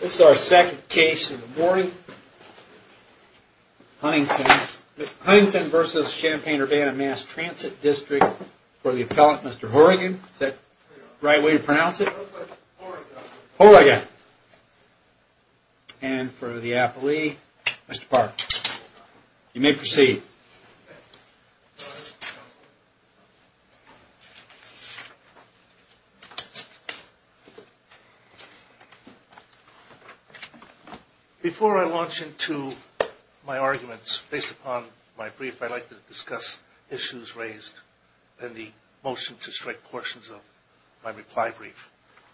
This is our second case in the morning. Huntington v. Champaign-Urbana Mass Transit District for the appellant, Mr. Horigan. Is that the right way to pronounce it? Horigan. And for the appellee, Mr. Park. You may proceed. Before I launch into my arguments, based upon my brief, I'd like to discuss issues raised in the motion to strike portions of my reply brief.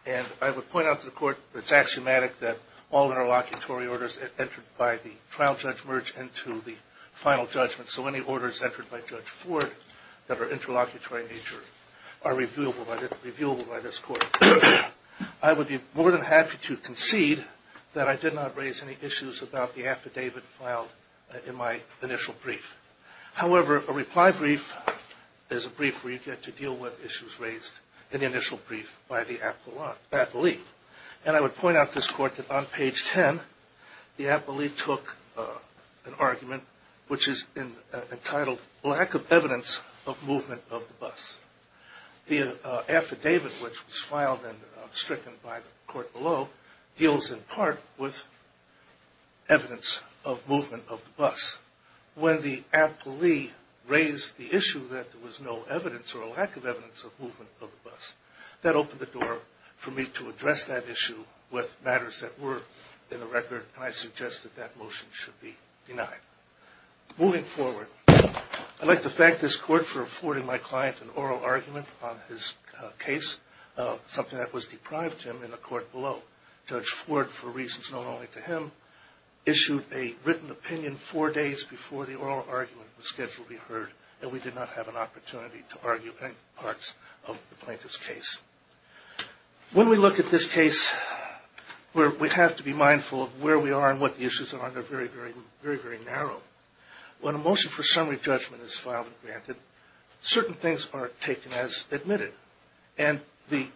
And I would point out to the Court that it's axiomatic that all interlocutory orders entered by the trial judge merge into the final judgment. So any orders entered by Judge Ford that are I would be more than happy to concede that I did not raise any issues about the affidavit filed in my initial brief. However, a reply brief is a brief where you get to deal with issues raised in the initial brief by the appellee. And I would point out to this Court that on page 10, the appellee took an argument which is entitled, Lack of Evidence of Movement of the Bus. The affidavit which was filed and stricken by the Court below deals in part with evidence of movement of the bus. When the appellee raised the issue that there was no evidence or lack of evidence of movement of the bus, that opened the door for me to address that issue with matters that were in the record, and I suggest that that motion should be my client an oral argument on his case, something that was deprived him in the Court below. Judge Ford, for reasons known only to him, issued a written opinion four days before the oral argument was scheduled to be heard, and we did not have an opportunity to argue any parts of the plaintiff's case. When we look at this case we have to be mindful of where we are and what the issues are, and they're very, very narrow. When a motion for summary judgment is filed and granted, certain things are taken as admitted, and the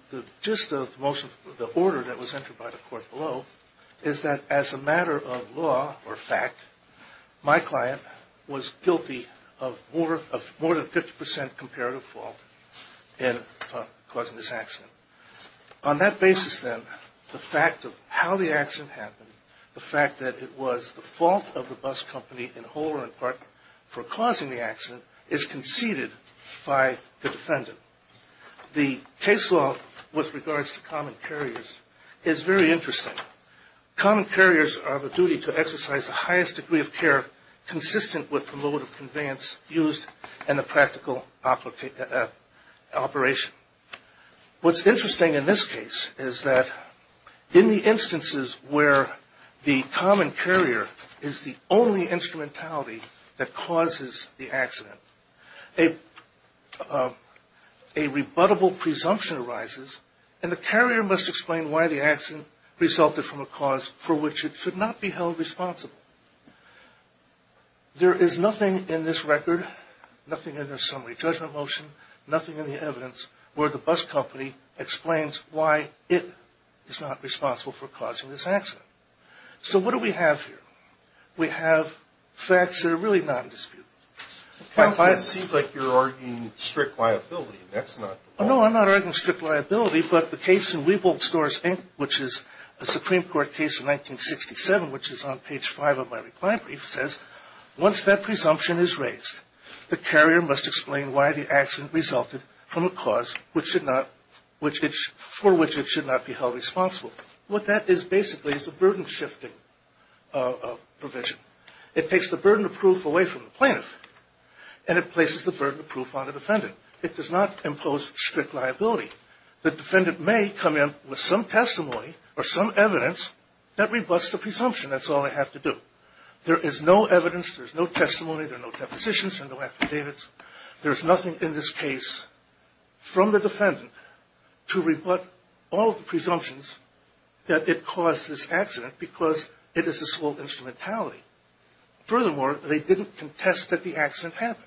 gist of the order that was entered by the Court below is that as a matter of law or fact, my client was guilty of more than 50 percent comparative fault in causing this accident. On that basis then, the fact of how the accident happened, the fact that it was the fault of the bus company in whole or in part for causing the accident, is conceded by the defendant. The case law with regards to common carriers is very interesting. Common carriers are of a duty to exercise the highest degree of care consistent with the mode of conveyance used and the practical operation. What's interesting in this case is that in the instances where the common carrier is the only instrumentality that causes the accident, a rebuttable presumption arises, and the carrier must explain why the accident resulted from a cause for which it should not be held responsible. There is nothing in this record, nothing in the summary judgment motion, nothing in the evidence where the bus company explains why it is not responsible for causing this accident. So what do we have here? We have facts that are really non-disputable. It seems like you're arguing strict liability. No, I'm not arguing strict liability, but the case in my reply brief says once that presumption is raised, the carrier must explain why the accident resulted from a cause for which it should not be held responsible. What that is basically is the burden shifting provision. It takes the burden of proof away from the plaintiff, and it places the burden of proof on the defendant. It does not impose strict liability. The defendant may come in with some testimony or some evidence that rebuts the presumption. That's all they have to do. There is no evidence, there is no testimony, there are no depositions, there are no affidavits. There is nothing in this case from the defendant to rebut all presumptions that it caused this accident because it is the sole instrumentality. Furthermore, they didn't contest that the accident happened.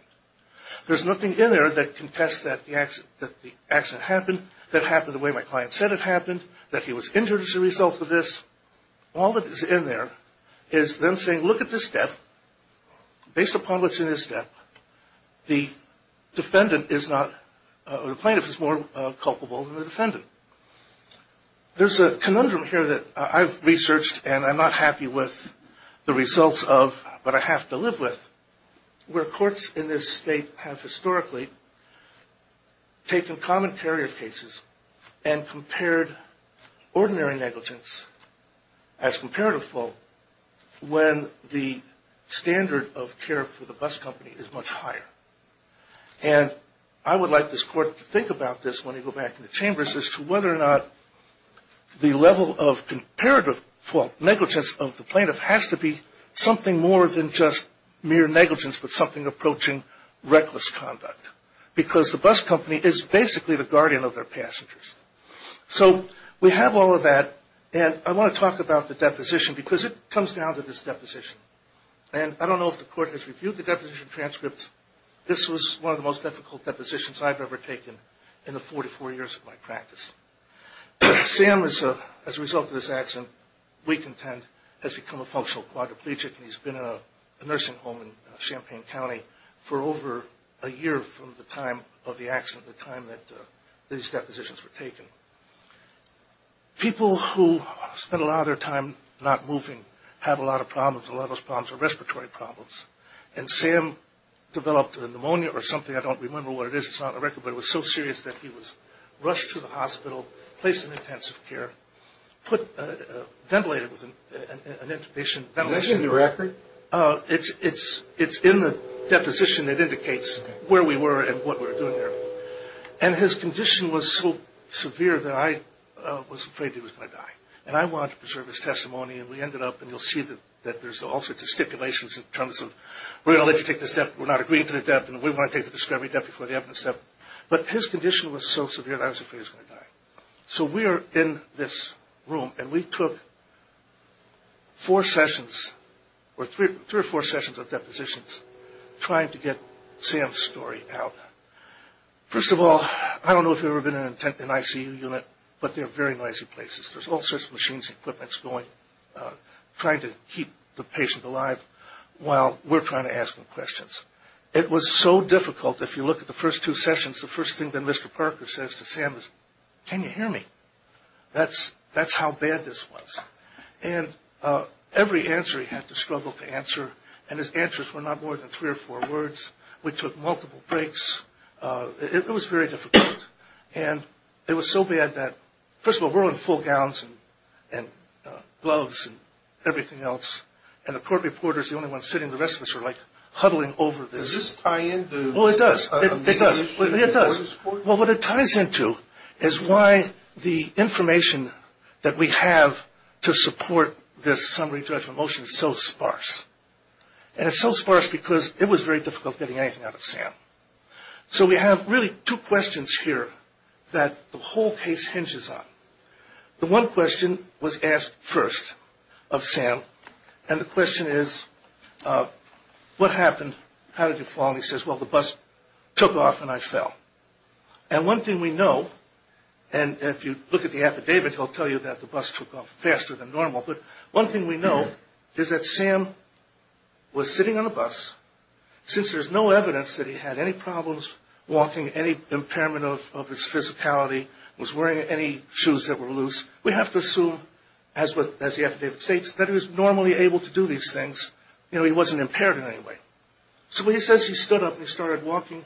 There is nothing in there that contests that the accident happened, that it happened the way my client said it happened, that he was injured as a result of this. All that is in there is them saying look at this step. Based upon what's in this step, the defendant is not, or the plaintiff is more culpable than the defendant. There's a conundrum here that I've researched and I'm not happy with the results of, but I have to live with, where courts in this state have historically taken common carrier cases and compared ordinary negligence as comparative fault when the standard of care for the bus company is much higher. And I would like this Court to think about this when we go back in the chambers as to whether or not the level of comparative fault negligence of the plaintiff has to be something more than just mere negligence but something approaching reckless conduct. Because the bus company is basically the guardian of their passengers. So we have all of that and I want to talk about the deposition because it comes down to this deposition. And I don't know if the Court has reviewed the deposition transcripts. This was one of the most difficult depositions I've ever taken in the 44 years of my practice. Sam as a result of this accident, weak intent, has become a functional quadriplegic and he's been in a nursing home in Champaign County for over a year from the time of the accident, the time that these depositions were taken. People who spend a lot of their time not moving have a lot of problems. A lot of those problems are respiratory problems. And Sam developed a pneumonia or something. I don't remember what it is. It's not on the record. But it was so serious that he was rushed to the hospital, placed in intensive care, ventilated with an intubation. It's in the deposition that indicates where we were and what we were doing there. And his condition was so severe that I was afraid he was going to die. And I wanted to preserve his testimony and we ended up, and you'll see that there's all sorts of stipulations in terms of we're going to let you take this step, we're not agreeing to this step, and we want to take the discovery step before the evidence step. But his condition was so severe that I was afraid he was going to die. So we are in this room and we took four sessions or three or four sessions of depositions trying to get Sam's story out. First of all, I don't know if you've ever been in an ICU unit, but they're very noisy places. There's all sorts of machines and equipment going, trying to keep the patient alive while we're trying to ask them questions. It was so difficult. If you look at the first two sessions, the first thing that Mr. Parker says to Sam is, can you hear me? That's how bad this was. And every answer he had to struggle to answer. And his answers were not more than three or four words. We took multiple breaks. It was very difficult. And it was so bad that, first of all, we're all in full gowns and gloves and everything else. And the court reporter is the only one sitting. The rest of us are like huddling over this. Well, what it ties into is why the information that we have to support this summary judgment motion is so sparse. And it's so sparse because it was very difficult getting anything out of Sam. So we have really two questions here that the whole case hinges on. The one question was asked first of Sam, and the question is, what happened? How did you fall? And he says, well, the bus took off and I fell. And one thing we know, and if you look at the affidavit, he'll tell you that the bus took off faster than normal, but one thing we know is that Sam was sitting on a bus. Since there's no evidence that he had any problems walking, any impairment of his physicality, was wearing any shoes that were loose, we have to assume, as the affidavit states, that he was normally able to do these things. He wasn't impaired in any way. So he says he stood up and he started walking.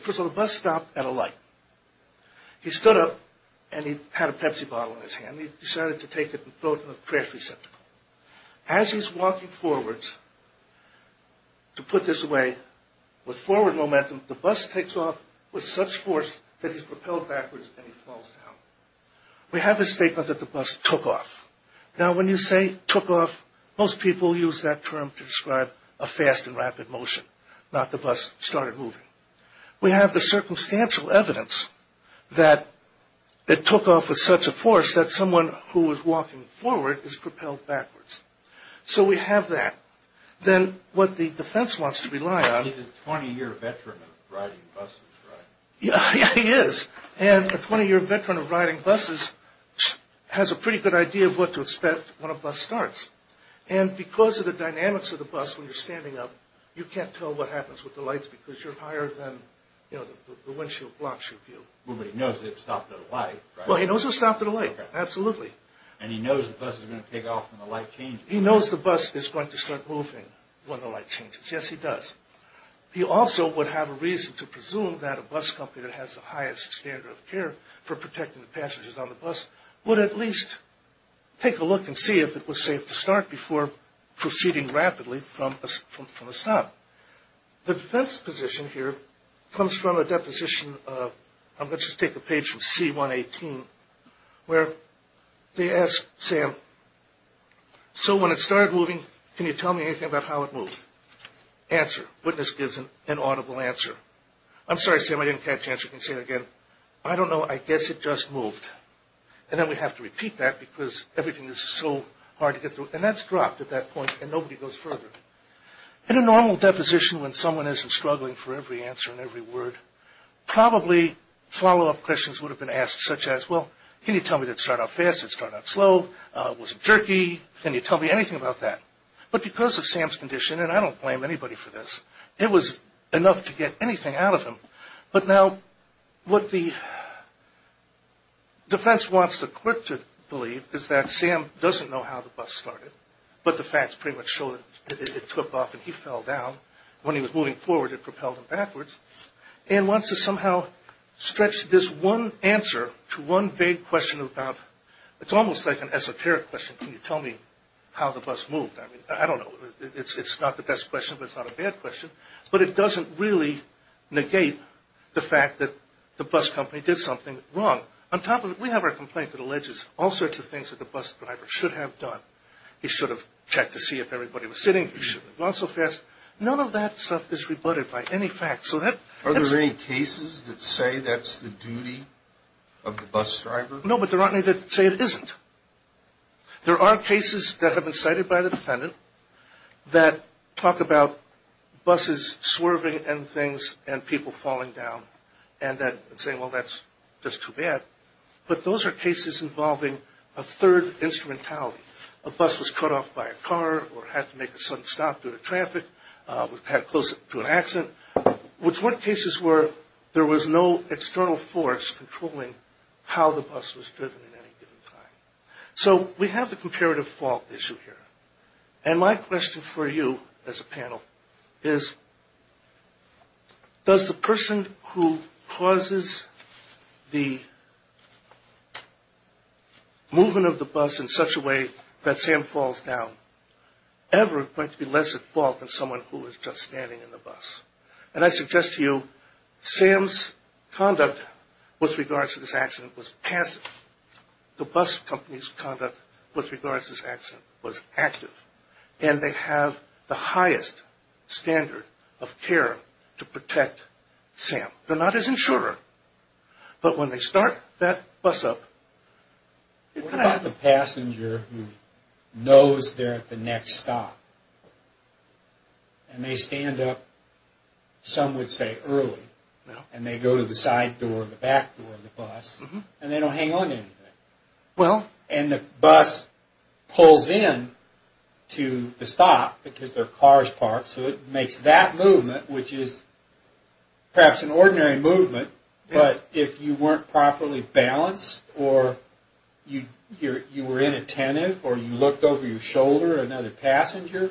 First of all, the bus stopped at a light. He stood up and he had a Pepsi bottle in his hand. He decided to take it and throw it in the trash receptacle. As he's walking forwards, to put this away, with forward momentum, the bus takes off with such force that he's propelled backwards and he falls down. We have a statement that the bus took off. Now when you say took off, most people use that term to describe a fast and rapid motion, not the bus started moving. We have the circumstantial evidence that it took off with such a force that someone who was walking forward is propelled backwards. So we have that. Then what the defense wants to rely on... He's a 20-year veteran of riding buses, right? Yeah, he is. A 20-year veteran of riding buses has a pretty good idea of what to expect when a bus starts. Because of the dynamics of the bus when you're standing up, you can't tell what happens with the lights because you're higher than the windshield block should be. But he knows it stopped at a light, right? He also would have a reason to presume that a bus company that has the highest standard of care for protecting the passengers on the bus would at least take a look and see if it was safe to start before proceeding rapidly from a stop. The defense position here comes from a deposition of... Let's just take a page from C-118 where they ask Sam, So when it started moving, can you tell me anything about how it moved? Answer. Witness gives an audible answer. I'm sorry, Sam, I didn't catch the answer. You can say it again. I don't know. I guess it just moved. And then we have to repeat that because everything is so hard to get through. And that's dropped at that point and nobody goes further. In a normal deposition when someone isn't struggling for every answer and every word, probably follow-up questions would have been asked such as, well, can you tell me that it started off fast? Did it start off slow? Was it jerky? Can you tell me anything about that? But because of Sam's condition, and I don't blame anybody for this, it was enough to get anything out of him. But now what the defense wants the court to believe is that Sam doesn't know how the bus started, but the facts pretty much show that it took off and he fell down. When he was moving forward, it propelled him backwards. And wants to somehow stretch this one answer to one vague question about... It's almost like an esoteric question. Can you tell me how the bus moved? I don't know. It's not the best question, but it's not a bad question. But it doesn't really negate the fact that the bus company did something wrong. On top of that, we have our complaint that alleges all sorts of things that the bus driver should have done. He should have checked to see if everybody was sitting. He should have gone so fast. None of that stuff is rebutted by any facts. Are there any cases that say that's the duty of the bus driver? No, but there aren't any that say it isn't. There are cases that have been cited by the defendant that talk about buses swerving and things and people falling down. And saying, well, that's just too bad. But those are cases involving a third instrumentality. A bus was cut off by a car or had to make a sudden stop due to traffic. Had to close it to an accident, which were cases where there was no external force controlling how the bus was driven at any given time. So we have the comparative fault issue here. And my question for you as a panel is, does the person who causes the movement of the bus in such a way that Sam falls down ever going to be less at fault than someone who is just standing in the bus? And I suggest to you, Sam's conduct with regards to this accident was passive. The bus company's conduct with regards to this accident was active. And they have the highest standard of care to protect Sam. They're not his insurer. But when they start that bus up... What about the passenger who knows they're at the next stop? And they stand up, some would say, early. And they go to the side door, the back door of the bus, and they don't hang on to anything. And the bus pulls in to the stop because their car is parked, so it makes that movement, which is perhaps an ordinary movement, but if you weren't properly balanced or you were inattentive or you looked over your shoulder at another passenger,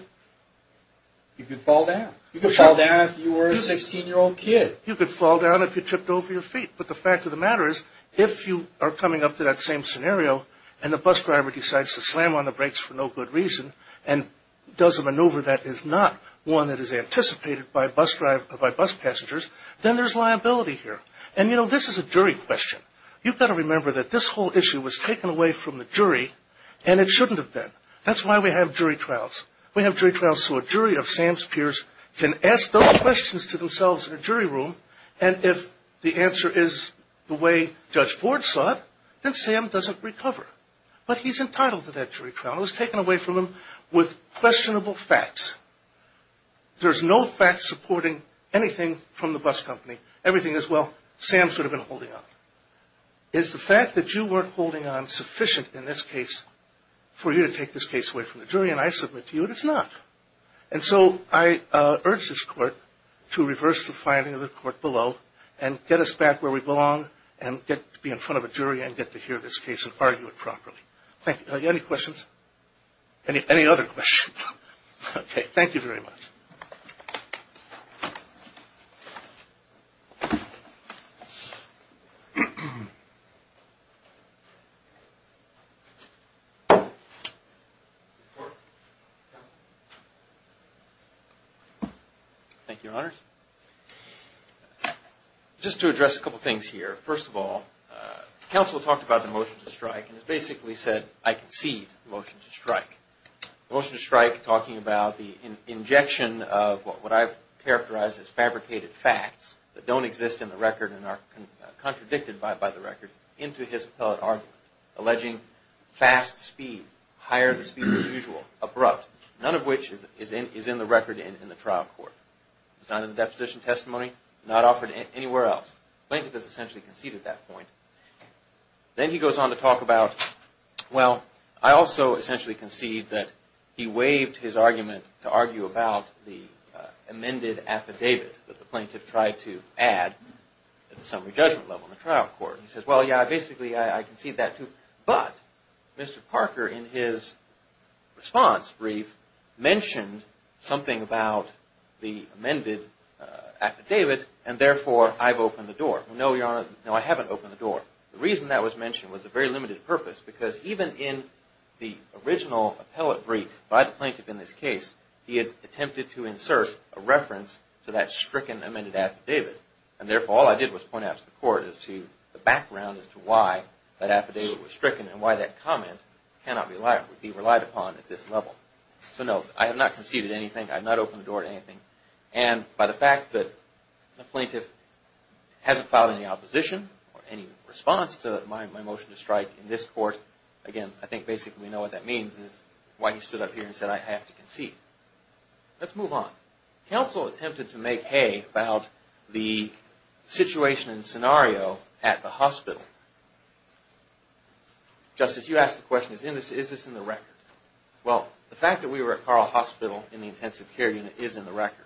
you could fall down. You could fall down if you were a 16-year-old kid. You could fall down if you tripped over your feet. But the fact of the matter is, if you are coming up to that same scenario and the bus driver decides to slam on the brakes for no good reason and does a maneuver that is not one that is anticipated by bus passengers, then there's liability here. And, you know, this is a jury question. You've got to remember that this whole issue was taken away from the jury, and it shouldn't have been. That's why we have jury trials. We have jury trials so a jury of Sam's peers can ask those questions to themselves in a jury room, and if the answer is the way Judge Ford saw it, then Sam doesn't recover. But he's entitled to that jury trial. It was taken away from him with questionable facts. There's no facts supporting anything from the bus company. Everything is, well, Sam should have been holding on. Is the fact that you weren't holding on sufficient in this case for you to take this case away from the jury? And I submit to you that it's not. And so I urge this Court to reverse the finding of the Court below and get us back where we belong and get to be in front of a jury and get to hear this case and argue it properly. Thank you. Any questions? Any other questions? Okay. Thank you very much. Thank you, Your Honors. Just to address a couple things here. First of all, counsel talked about the motion to strike and basically said I concede the motion to strike. The motion to strike talking about the injection of what I've characterized as fabricated facts that don't exist in the record and are contradicted by the record into his appellate argument, alleging fast speed, higher speed than usual, abrupt, none of which is in the record in the trial court. It's not in the deposition testimony, not offered anywhere else. Plaintiff has essentially conceded that point. Then he goes on to talk about, well, I also essentially concede that he waived his argument to argue about the amended affidavit that the plaintiff tried to add at the summary judgment level in the trial court. He says, well, yeah, basically I concede that, too. But Mr. Parker in his response brief mentioned something about the amended affidavit and therefore I've opened the door. No, Your Honor, no, I haven't opened the door. The reason that was mentioned was a very limited purpose because even in the original appellate brief by the plaintiff in this case, he had attempted to insert a reference to that stricken amended affidavit and therefore all I did was point out to the court as to the background as to why that affidavit was stricken and why that comment cannot be relied upon at this level. So no, I have not conceded anything. I have not opened the door to anything. And by the fact that the plaintiff hasn't filed any opposition or any response to my motion to strike in this court, again, I think basically we know what that means is why he stood up here and said I have to concede. Let's move on. Counsel attempted to make hay about the situation and scenario at the hospital. Justice, you asked the question, is this in the record? Well, the fact that we were at Carl Hospital in the intensive care unit is in the record.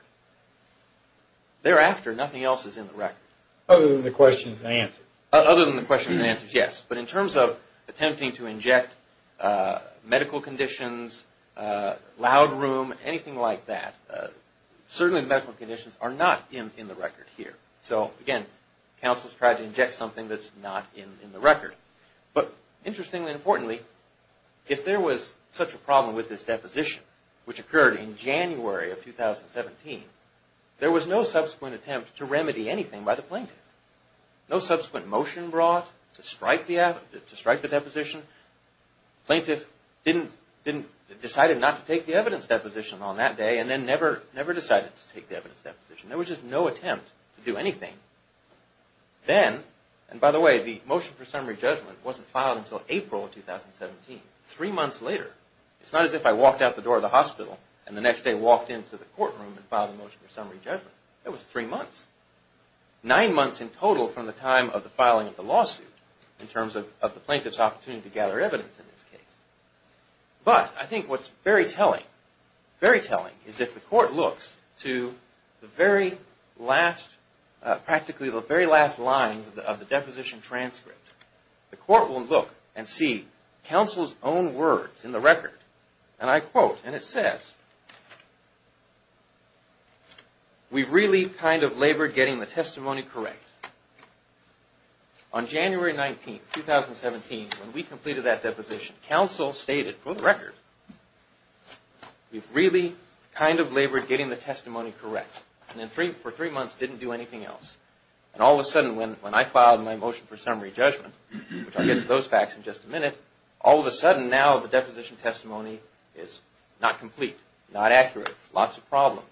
Thereafter, nothing else is in the record. Other than the questions and answers. Yes, but in terms of attempting to inject medical conditions, loud room, anything like that, certainly medical conditions are not in the record here. Counsel has tried to inject something that is not in the record. Interestingly and importantly, if there was such a problem with this deposition, which occurred in January of 2017, there was no subsequent attempt to remedy anything by the plaintiff. No subsequent motion brought to strike the deposition. Plaintiff decided not to take the evidence deposition on that day and then never decided to take the evidence deposition. There was just no attempt to do anything. Then, and by the way, the motion for summary judgment wasn't filed until April of 2017. Three months later. It's not as if I walked out the door of the hospital and the next day walked into the courtroom and filed a motion for summary judgment. It was three months, nine months in total from the time of the filing of the lawsuit in terms of the plaintiff's opportunity to gather evidence in this case. But I think what's very telling, very telling, is if the court looks to the very last, practically the very last lines of the deposition transcript, the court will look and see counsel's own words in the record. And I quote, and it says, we've really kind of labored getting the testimony correct. On January 19, 2017, when we completed that deposition, counsel stated, for the record, we've really kind of labored getting the testimony correct. And for three months didn't do anything else. And all of a sudden, when I filed my motion for summary judgment, which I'll get to those facts in just a minute, all of a sudden now the deposition testimony is not complete, not accurate, lots of problems.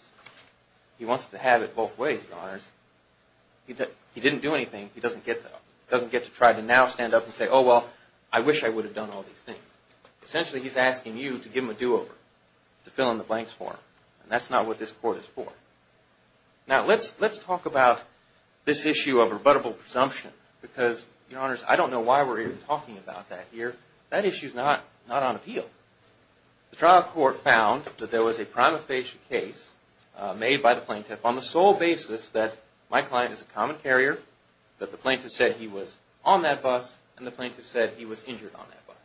He wants to have it both ways, Your Honors. He didn't do anything. He doesn't get to try to now stand up and say, oh, well, I wish I would have done all these things. Essentially, he's asking you to give him a do-over, to fill in the blanks for him. And that's not what this court is for. Now, let's talk about this issue of rebuttable presumption, because, Your Honors, I don't know why we're even talking about that here. That issue's not on appeal. The trial court found that there was a prima facie case made by the plaintiff on the sole basis that my client is a common carrier, that the plaintiff said he was on that bus, and the plaintiff said he was injured on that bus.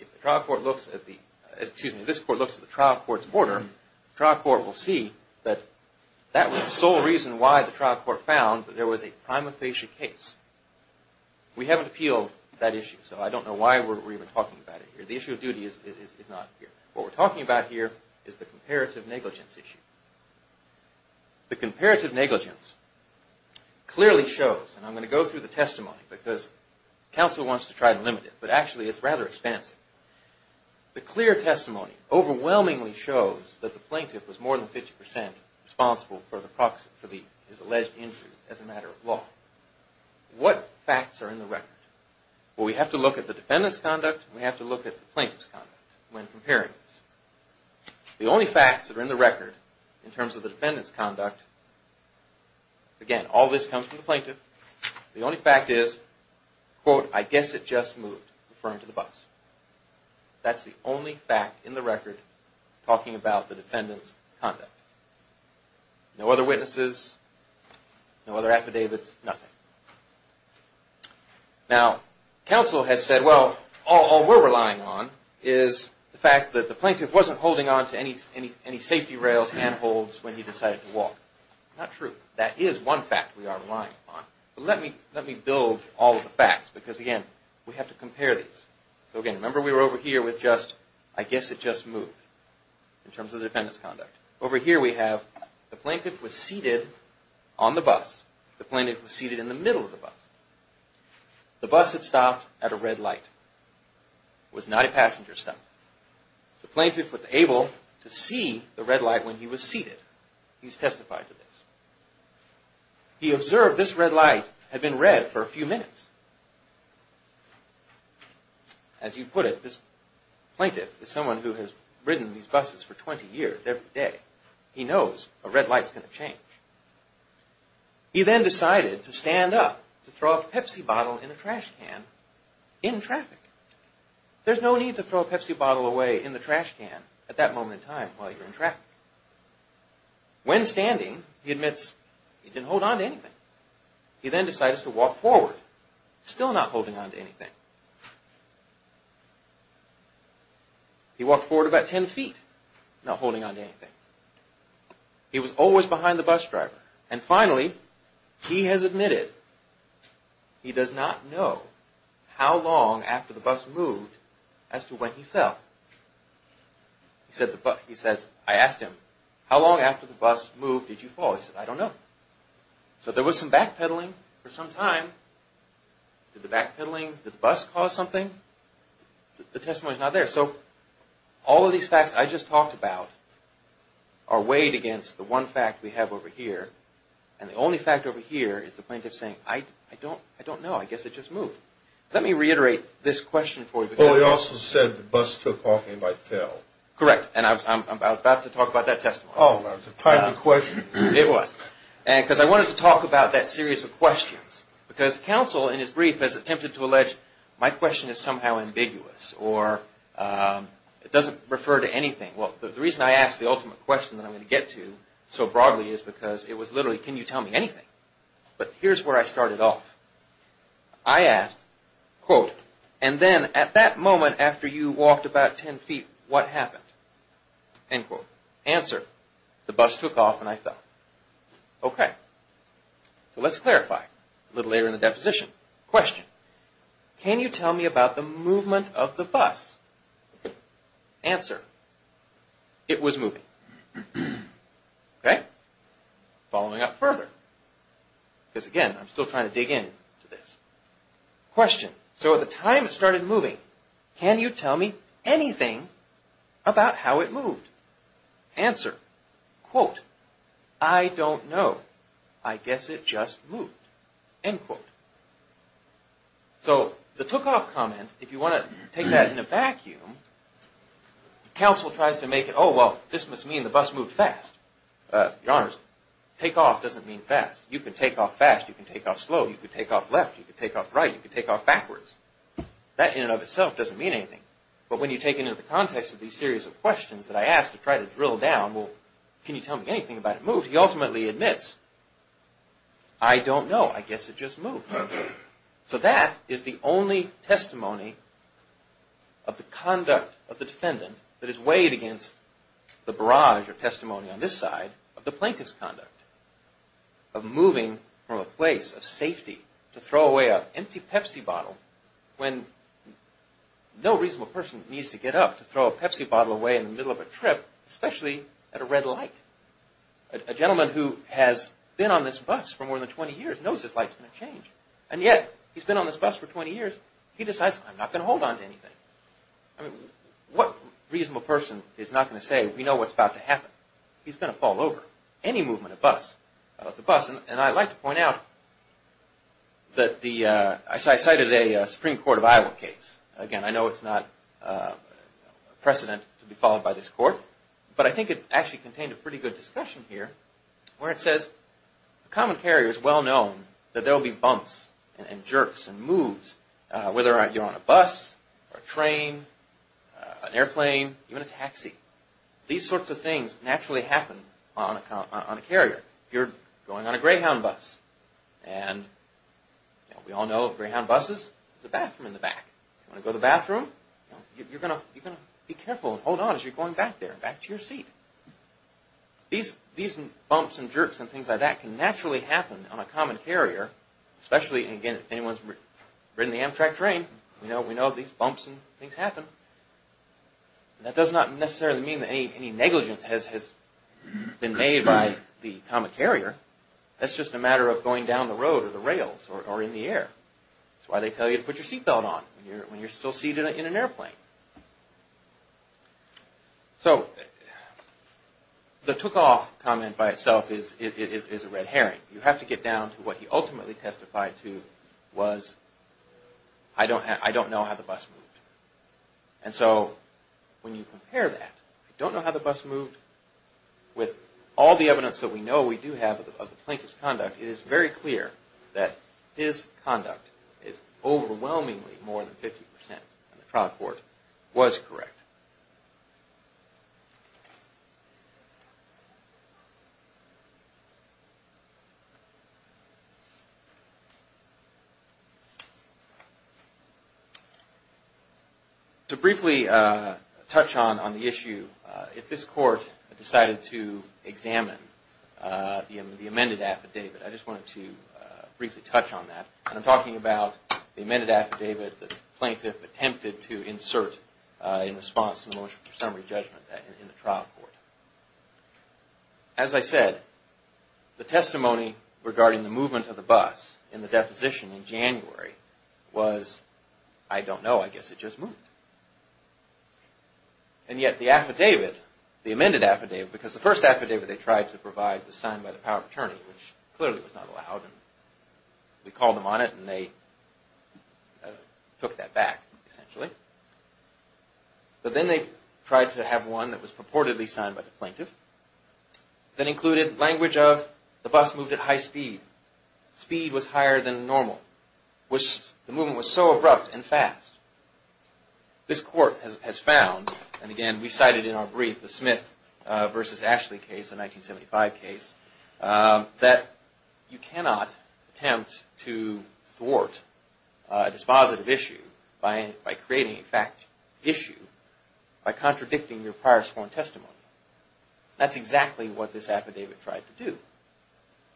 If the trial court looks at the, excuse me, if this court looks at the trial court's order, the trial court will see that that was the sole reason why the trial court found that there was a prima facie case. We haven't appealed that issue, so I don't know why we're even talking about it here. The issue of duty is not here. What we're talking about here is the comparative negligence issue. The comparative negligence clearly shows, and I'm going to go through the testimony, because counsel wants to try to limit it, but actually it's rather expansive. The clear testimony overwhelmingly shows that the plaintiff was more than 50% responsible for his alleged injury as a matter of law. What facts are in the record? Well, we have to look at the defendant's conduct, and we have to look at the plaintiff's conduct when comparing these. The only facts that are in the record in terms of the defendant's conduct, again, all this comes from the plaintiff, the only fact is, quote, I guess it just moved, referring to the bus. That's the only fact in the record talking about the defendant's conduct. No other witnesses, no other affidavits, nothing. Now, counsel has said, well, all we're relying on is the fact that the plaintiff wasn't holding on to any safety rails, handholds when he decided to walk. Not true. That is one fact we are relying on. Let me build all of the facts, because again, we have to compare these. So again, remember we were over here with just, I guess it just moved, in terms of the defendant's conduct. Over here we have the plaintiff was seated on the bus. The plaintiff was seated in the middle of the bus. The bus had stopped at a red light. It was not a passenger stop. The plaintiff was able to see the red light when he was seated. He's testified to this. He observed this red light had been red for a few minutes. As you put it, this plaintiff is someone who has ridden these buses for 20 years every day. He knows a red light's going to change. He then decided to stand up to throw a Pepsi bottle in a trash can in traffic. There's no need to throw a Pepsi bottle away in the trash can at that moment in time while you're in traffic. When standing, he admits he didn't hold on to anything. He then decides to walk forward, still not holding on to anything. He walked forward about 10 feet, not holding on to anything. He was always behind the bus driver. And finally, he has admitted he does not know how long after the bus moved as to when he fell. I asked him, how long after the bus moved did you fall? He said, I don't know. So there was some backpedaling for some time. Did the backpedaling, did the bus cause something? The testimony's not there. So all of these facts I just talked about are weighed against the one fact we have over here. And the only fact over here is the plaintiff saying, I don't know. I guess it just moved. Let me reiterate this question for you. Correct. And I'm about to talk about that testimony. Because I wanted to talk about that series of questions. Because counsel in his brief has attempted to allege my question is somehow ambiguous or it doesn't refer to anything. Well, the reason I asked the ultimate question that I'm going to get to so broadly is because it was literally, can you tell me anything? But here's where I started off. I asked, and then at that moment after you walked about 10 feet, what happened? Answer, the bus took off and I fell. So let's clarify a little later in the deposition. Question, can you tell me about the movement of the bus? Answer, it was moving. Following up further, because again, I'm still trying to dig into this. Question, so at the time it started moving, can you tell me anything about how it moved? Answer, quote, I don't know. I guess it just moved. End quote. So the took off comment, if you want to take that in a vacuum, counsel tries to make it, oh well, this must mean the bus moved fast. Your honors, take off doesn't mean fast. You can take off fast, you can take off slow, you can take off left, you can take off right, you can take off backwards. That in and of itself doesn't mean anything. But when you take it into the context of these series of questions that I asked to try to drill down, well, can you tell me anything about it moving, he ultimately admits, I don't know, I guess it just moved. So that is the only testimony of the conduct of the defendant that is weighed against the barrage of testimony on this side of the plaintiff's conduct. Of moving from a place of safety to throw away an empty Pepsi bottle when no reasonable person needs to get up to throw a Pepsi bottle away in the middle of a trip, especially at a red light. A gentleman who has been on this bus for more than 20 years knows this light's going to change. And yet, he's been on this bus for 20 years, he decides, I'm not going to hold on to anything. What reasonable person is not going to say, we know what's about to happen? He's going to fall over, any movement of the bus. And I'd like to point out that I cited a Supreme Court of Iowa case. Again, I know it's not precedent to be followed by this court, but I think it actually contained a pretty good discussion here where it says, a common carrier is well known that there will be bumps and jerks and moves, whether you're on a bus, a train, an airplane, even a taxi. These sorts of things naturally happen on a carrier. If you're going on a Greyhound bus, and we all know Greyhound buses, there's a bathroom in the back. You want to go to the bathroom? You're going to be careful and hold on as you're going back there, back to your seat. These bumps and jerks and things like that can naturally happen on a common carrier, especially, again, if anyone's ridden the Amtrak train, we know these bumps and things happen. That does not necessarily mean that any negligence has been made by the common carrier. That's just a matter of going down the road or the rails or in the air. That's why they tell you to put your seatbelt on when you're still seated in an airplane. The took-off comment by itself is a red herring. You have to get down to what he ultimately testified to was, I don't know how the bus moved. When you compare that, I don't know how the bus moved, with all the evidence that we know we do have of the plaintiff's conduct, it is very clear that his conduct is overwhelmingly more than 50% in the trial court was correct. To briefly touch on the issue, if this court decided to examine the amended affidavit, I'm talking about the amended affidavit the plaintiff attempted to insert in response to the motion for summary judgment in the trial court. As I said, the testimony regarding the movement of the bus in the deposition in January was, I don't know, I guess it just moved. And yet the affidavit, the amended affidavit, because the first affidavit they tried to provide was signed by the power of attorney, which clearly was not allowed. We called them on it and they took that back, essentially. But then they tried to have one that was purportedly signed by the plaintiff that included language of, the bus moved at high speed. Speed was higher than normal. The movement was so abrupt and fast. This court has found, and again we cited in our brief the Smith v. Ashley case, the 1975 case, that you cannot attempt to thwart a dispositive issue by creating a fact issue by contradicting your prior sworn testimony. That's exactly what this affidavit tried to do.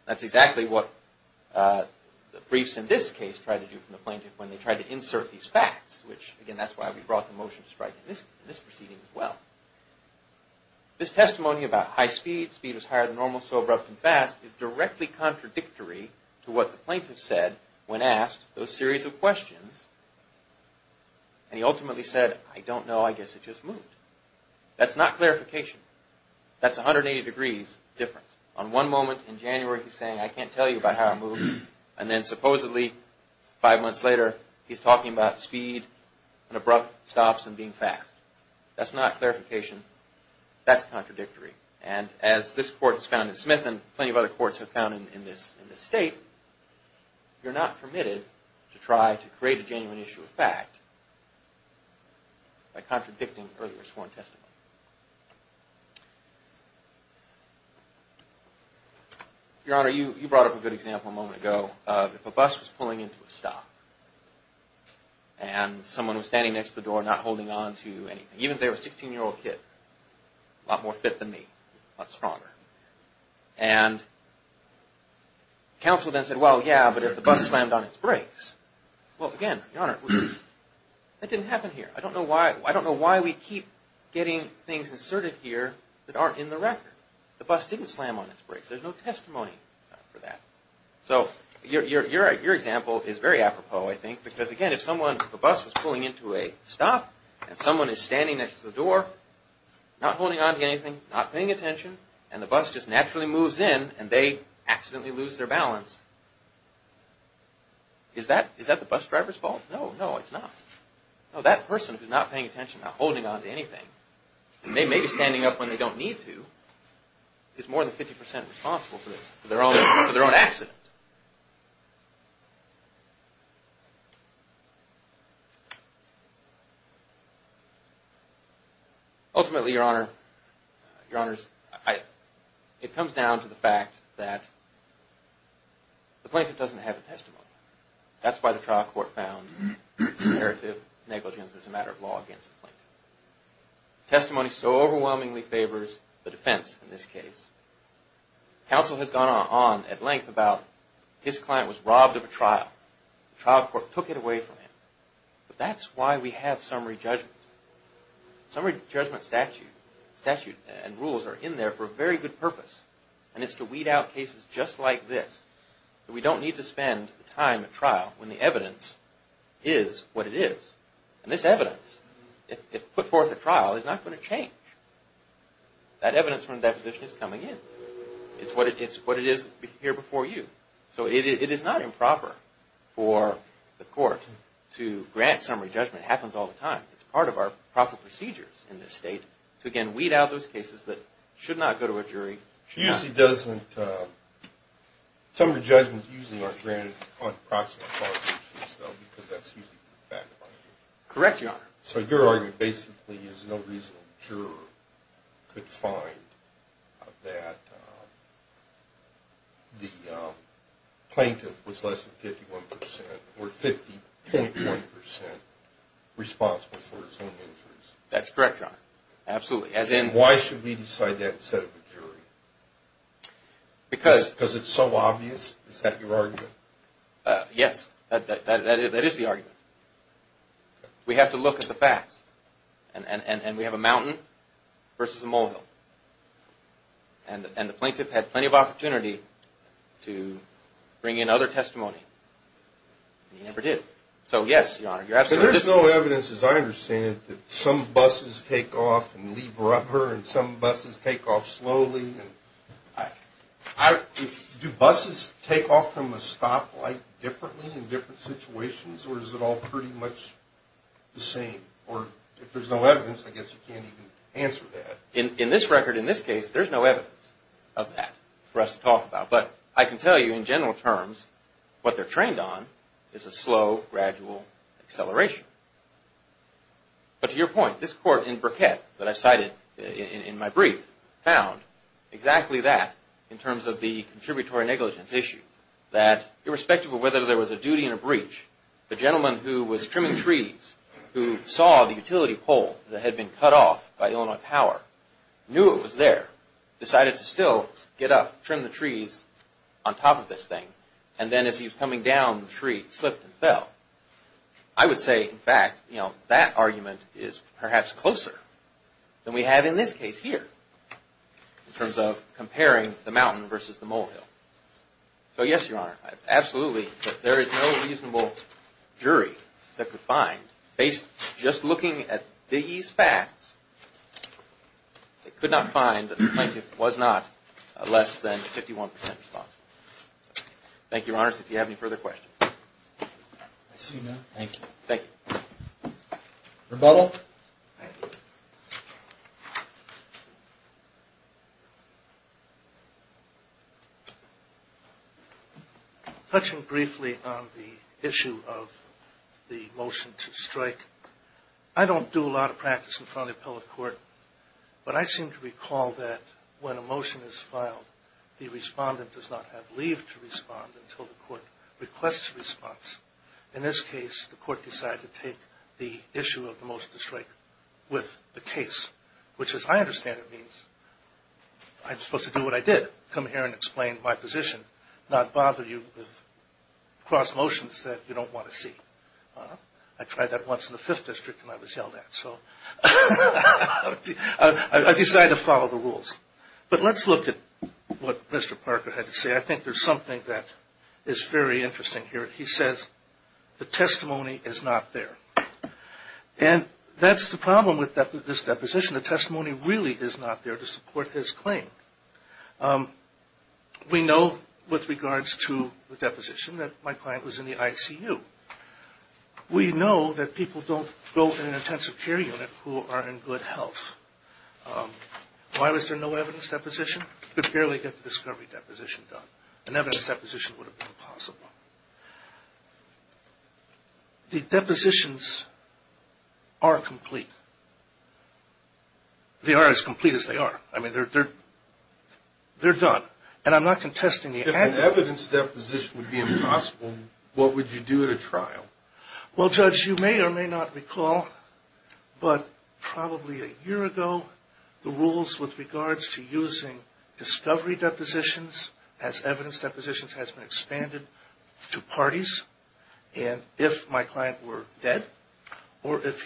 That's exactly what the briefs in this case tried to do from the plaintiff when they tried to insert these facts, which again, that's why we brought the motion to strike in this proceeding as well. This testimony about high speed, speed was higher than normal, so abrupt and fast, is directly contradictory to what the plaintiff said when asked those series of questions. And he ultimately said, I don't know, I guess it just moved. That's not clarification. That's 180 degrees difference. On one moment in January he's saying, I can't tell you about how it moved, and then supposedly five months later he's talking about speed and abrupt stops and being fast. That's not clarification. That's contradictory. And as this court has found in Smith, and plenty of other courts have found in this state, you're not permitted to try to create a genuine issue of fact by contradicting earlier sworn testimony. Your Honor, you brought up a good example a moment ago of if a bus was pulling into a stop and someone was standing next to the door not holding on to anything, even if they were a 16-year-old kid, a lot more fit than me, a lot stronger. And counsel then said, well, yeah, but if the bus slammed on its brakes, well, again, Your Honor, that didn't happen here. I don't know why we keep getting things inserted here that aren't in the record. The bus didn't slam on its brakes. There's no testimony for that. So your example is very apropos, I think, because again, if the bus was pulling into a stop and someone is standing next to the door, not holding on to anything, not paying attention, and the bus just naturally moves in, and they accidentally lose their balance, is that the bus driver's fault? No, no, it's not. That person who's not paying attention, not holding on to anything, and they may be standing up when they don't need to, is more than 50% responsible for their own accident. Ultimately, Your Honor, it comes down to the fact that the plaintiff doesn't have a testimony. That's why the trial court found imperative negligence as a matter of law against the plaintiff. Testimony so overwhelmingly favors the defense in this case. Counsel has gone on at length about his client was robbed of a trial. The trial court took it away from him. But that's why we have summary judgment. Summary judgment statute and rules are in there for a very good purpose, and it's to weed out cases just like this. We don't need to spend time at trial when the evidence is what it is. And this evidence, if put forth at trial, is not going to change. That evidence from the deposition is coming in. It's what it is here before you. So it is not improper for the court to grant summary judgment. It happens all the time. It's part of our procedures in this state to, again, weed out those cases that should not go to a jury. Summary judgments usually aren't granted on proximate cause issues, though, because that's usually the background. Correct, Your Honor. So your argument basically is no reasonable juror could find that the plaintiff was less than 51%, or 50.1% responsible for his own injuries. That's correct, Your Honor. Absolutely. Why should we decide that instead of a jury? Because it's so obvious? Is that your argument? Yes. That is the argument. We have to look at the facts. And we have a mountain versus a molehill. And the plaintiff had plenty of opportunity to bring in other testimony. He never did. So yes, Your Honor, you're absolutely right. So there's no evidence, as I understand it, that some buses take off and leave rubber, and some buses take off slowly. Do buses take off from a stoplight differently in different situations, or is it all pretty much the same? Or if there's no evidence, I guess you can't even answer that. In this record, in this case, there's no evidence of that for us to talk about. But I can tell you, in general terms, what they're trained on is a slow, gradual acceleration. But to your point, this court in Burkett, that I cited in my brief, found exactly that in terms of the contributory negligence issue. That irrespective of whether there was a duty and a breach, the gentleman who was trimming trees, who saw the utility pole that had been cut off by Illinois Power, knew it was there, decided to still get up, trim the trees on top of this thing. And then as he was coming down the tree, it slipped and fell. I would say, in fact, that argument is perhaps closer than we have in this case here, in terms of comparing the mountain versus the molehill. So yes, Your Honor, absolutely, there is no reasonable jury that could find, just looking at these facts, they could not find that the plaintiff was not less than 51% responsible. Thank you, Your Honor, if you have any further questions. I see none. Thank you. Thank you. Rebuttal? Touching briefly on the issue of the motion to strike, I don't do a lot of practice in front of the public court, but I seem to recall that when a motion is filed, the respondent does not have leave to respond until the court requests a response. In this case, the court decided to take the issue of the motion to strike with the I tried that once in the 5th District and I was yelled at. I decided to follow the rules. But let's look at what Mr. Parker had to say. I think there's something that is very interesting here. He says, the testimony is not there. And that's the problem with this deposition. The testimony really is not there to support his claim. We know with regards to the deposition that my client was in the ICU. We know that people don't go to an intensive care unit who are in good health. Why was there no evidence deposition? You could barely get the discovery deposition done. An evidence deposition would have been possible. The depositions are incomplete. They are as complete as they are. They're done. And I'm not contesting the act. If an evidence deposition would be impossible, what would you do at a trial? Well, Judge, you may or may not recall, but probably a year ago, the rules with regards to using discovery depositions as evidence depositions has been expanded to the extent that if I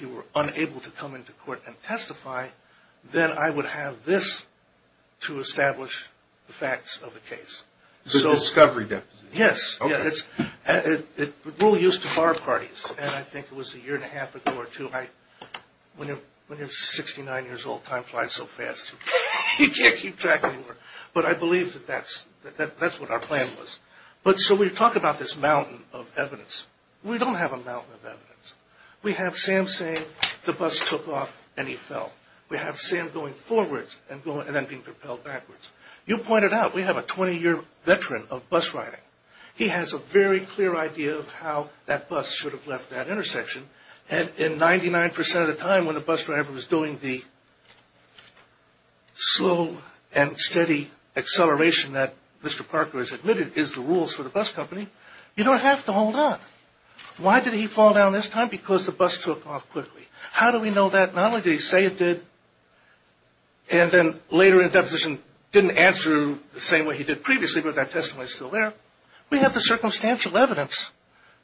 was able to come into court and testify, then I would have this to establish the facts of the case. The discovery deposition? Yes. It's rule used to bar parties. And I think it was a year and a half ago or two. When you're 69 years old, time flies so fast, you can't keep track anymore. But I believe that that's what our plan was. So we talk about this mountain of evidence. We have Sam saying the bus took off and he fell. We have Sam going forwards and then being propelled backwards. You pointed out, we have a 20-year veteran of bus riding. He has a very clear idea of how that bus should have left that intersection. And 99% of the time when the bus driver was doing the slow and steady acceleration that Mr. Parker has admitted is the rules for the bus company, you don't have to hold on. Why did he fall down this time? Because the bus took off quickly. How do we know that? Not only did he say it did, and then later in the deposition didn't answer the same way he did previously, but that testimony is still there. We have the circumstantial evidence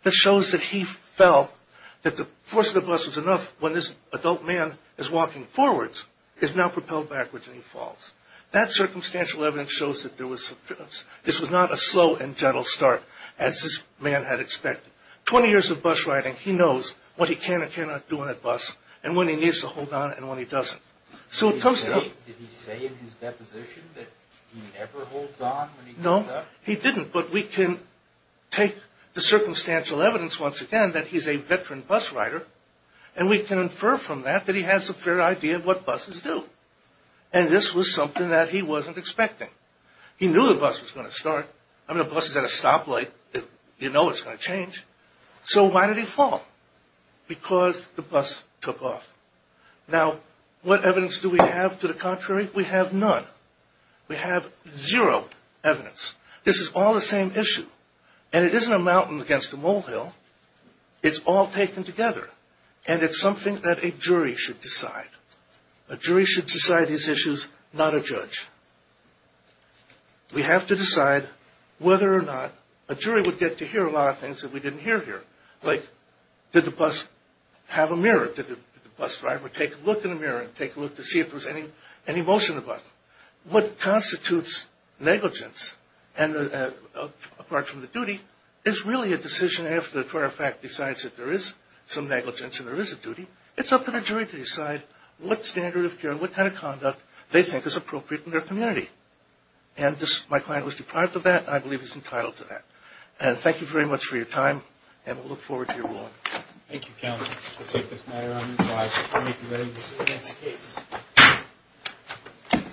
that shows that he felt that the force of the bus was enough when this adult man is walking forwards, is now propelled backwards and he falls. That circumstantial evidence shows that this was not a slow and gentle start as this man had expected. 20 years of bus riding, he knows what he can and cannot do on a bus and when he needs to hold on and when he doesn't. So it comes to me... Did he say in his deposition that he never holds on when he does that? No, he didn't. But we can take the circumstantial evidence once again that he's a veteran bus rider and we can infer from that that he has a fair idea of what buses do. And this was something that he wasn't expecting. He knew the bus was going to start. I mean a bus is at a stoplight, you know it's going to change. So why did he fall? Because the bus took off. Now what evidence do we have to the contrary? We have none. We have zero evidence. This is all the same issue. And it isn't a mountain against a molehill. It's all taken together. And it's something that a jury should decide. A jury should decide these issues, not a judge. We have to decide whether or not a jury would get to hear a lot of things that we didn't hear here. Like did the bus have a mirror? Did the bus driver take a look in the mirror and take a look to see if there was any motion in the bus? What constitutes negligence apart from the duty is really a decision after the court of fact decides that there is some negligence and there is a duty. It's up to the jury to decide what standard of care and what kind of conduct they think is appropriate in their community. And my client was deprived of that and I believe he's entitled to that. And thank you very much for your time and we'll look forward to your ruling. Thank you counsel. We'll take this matter under review.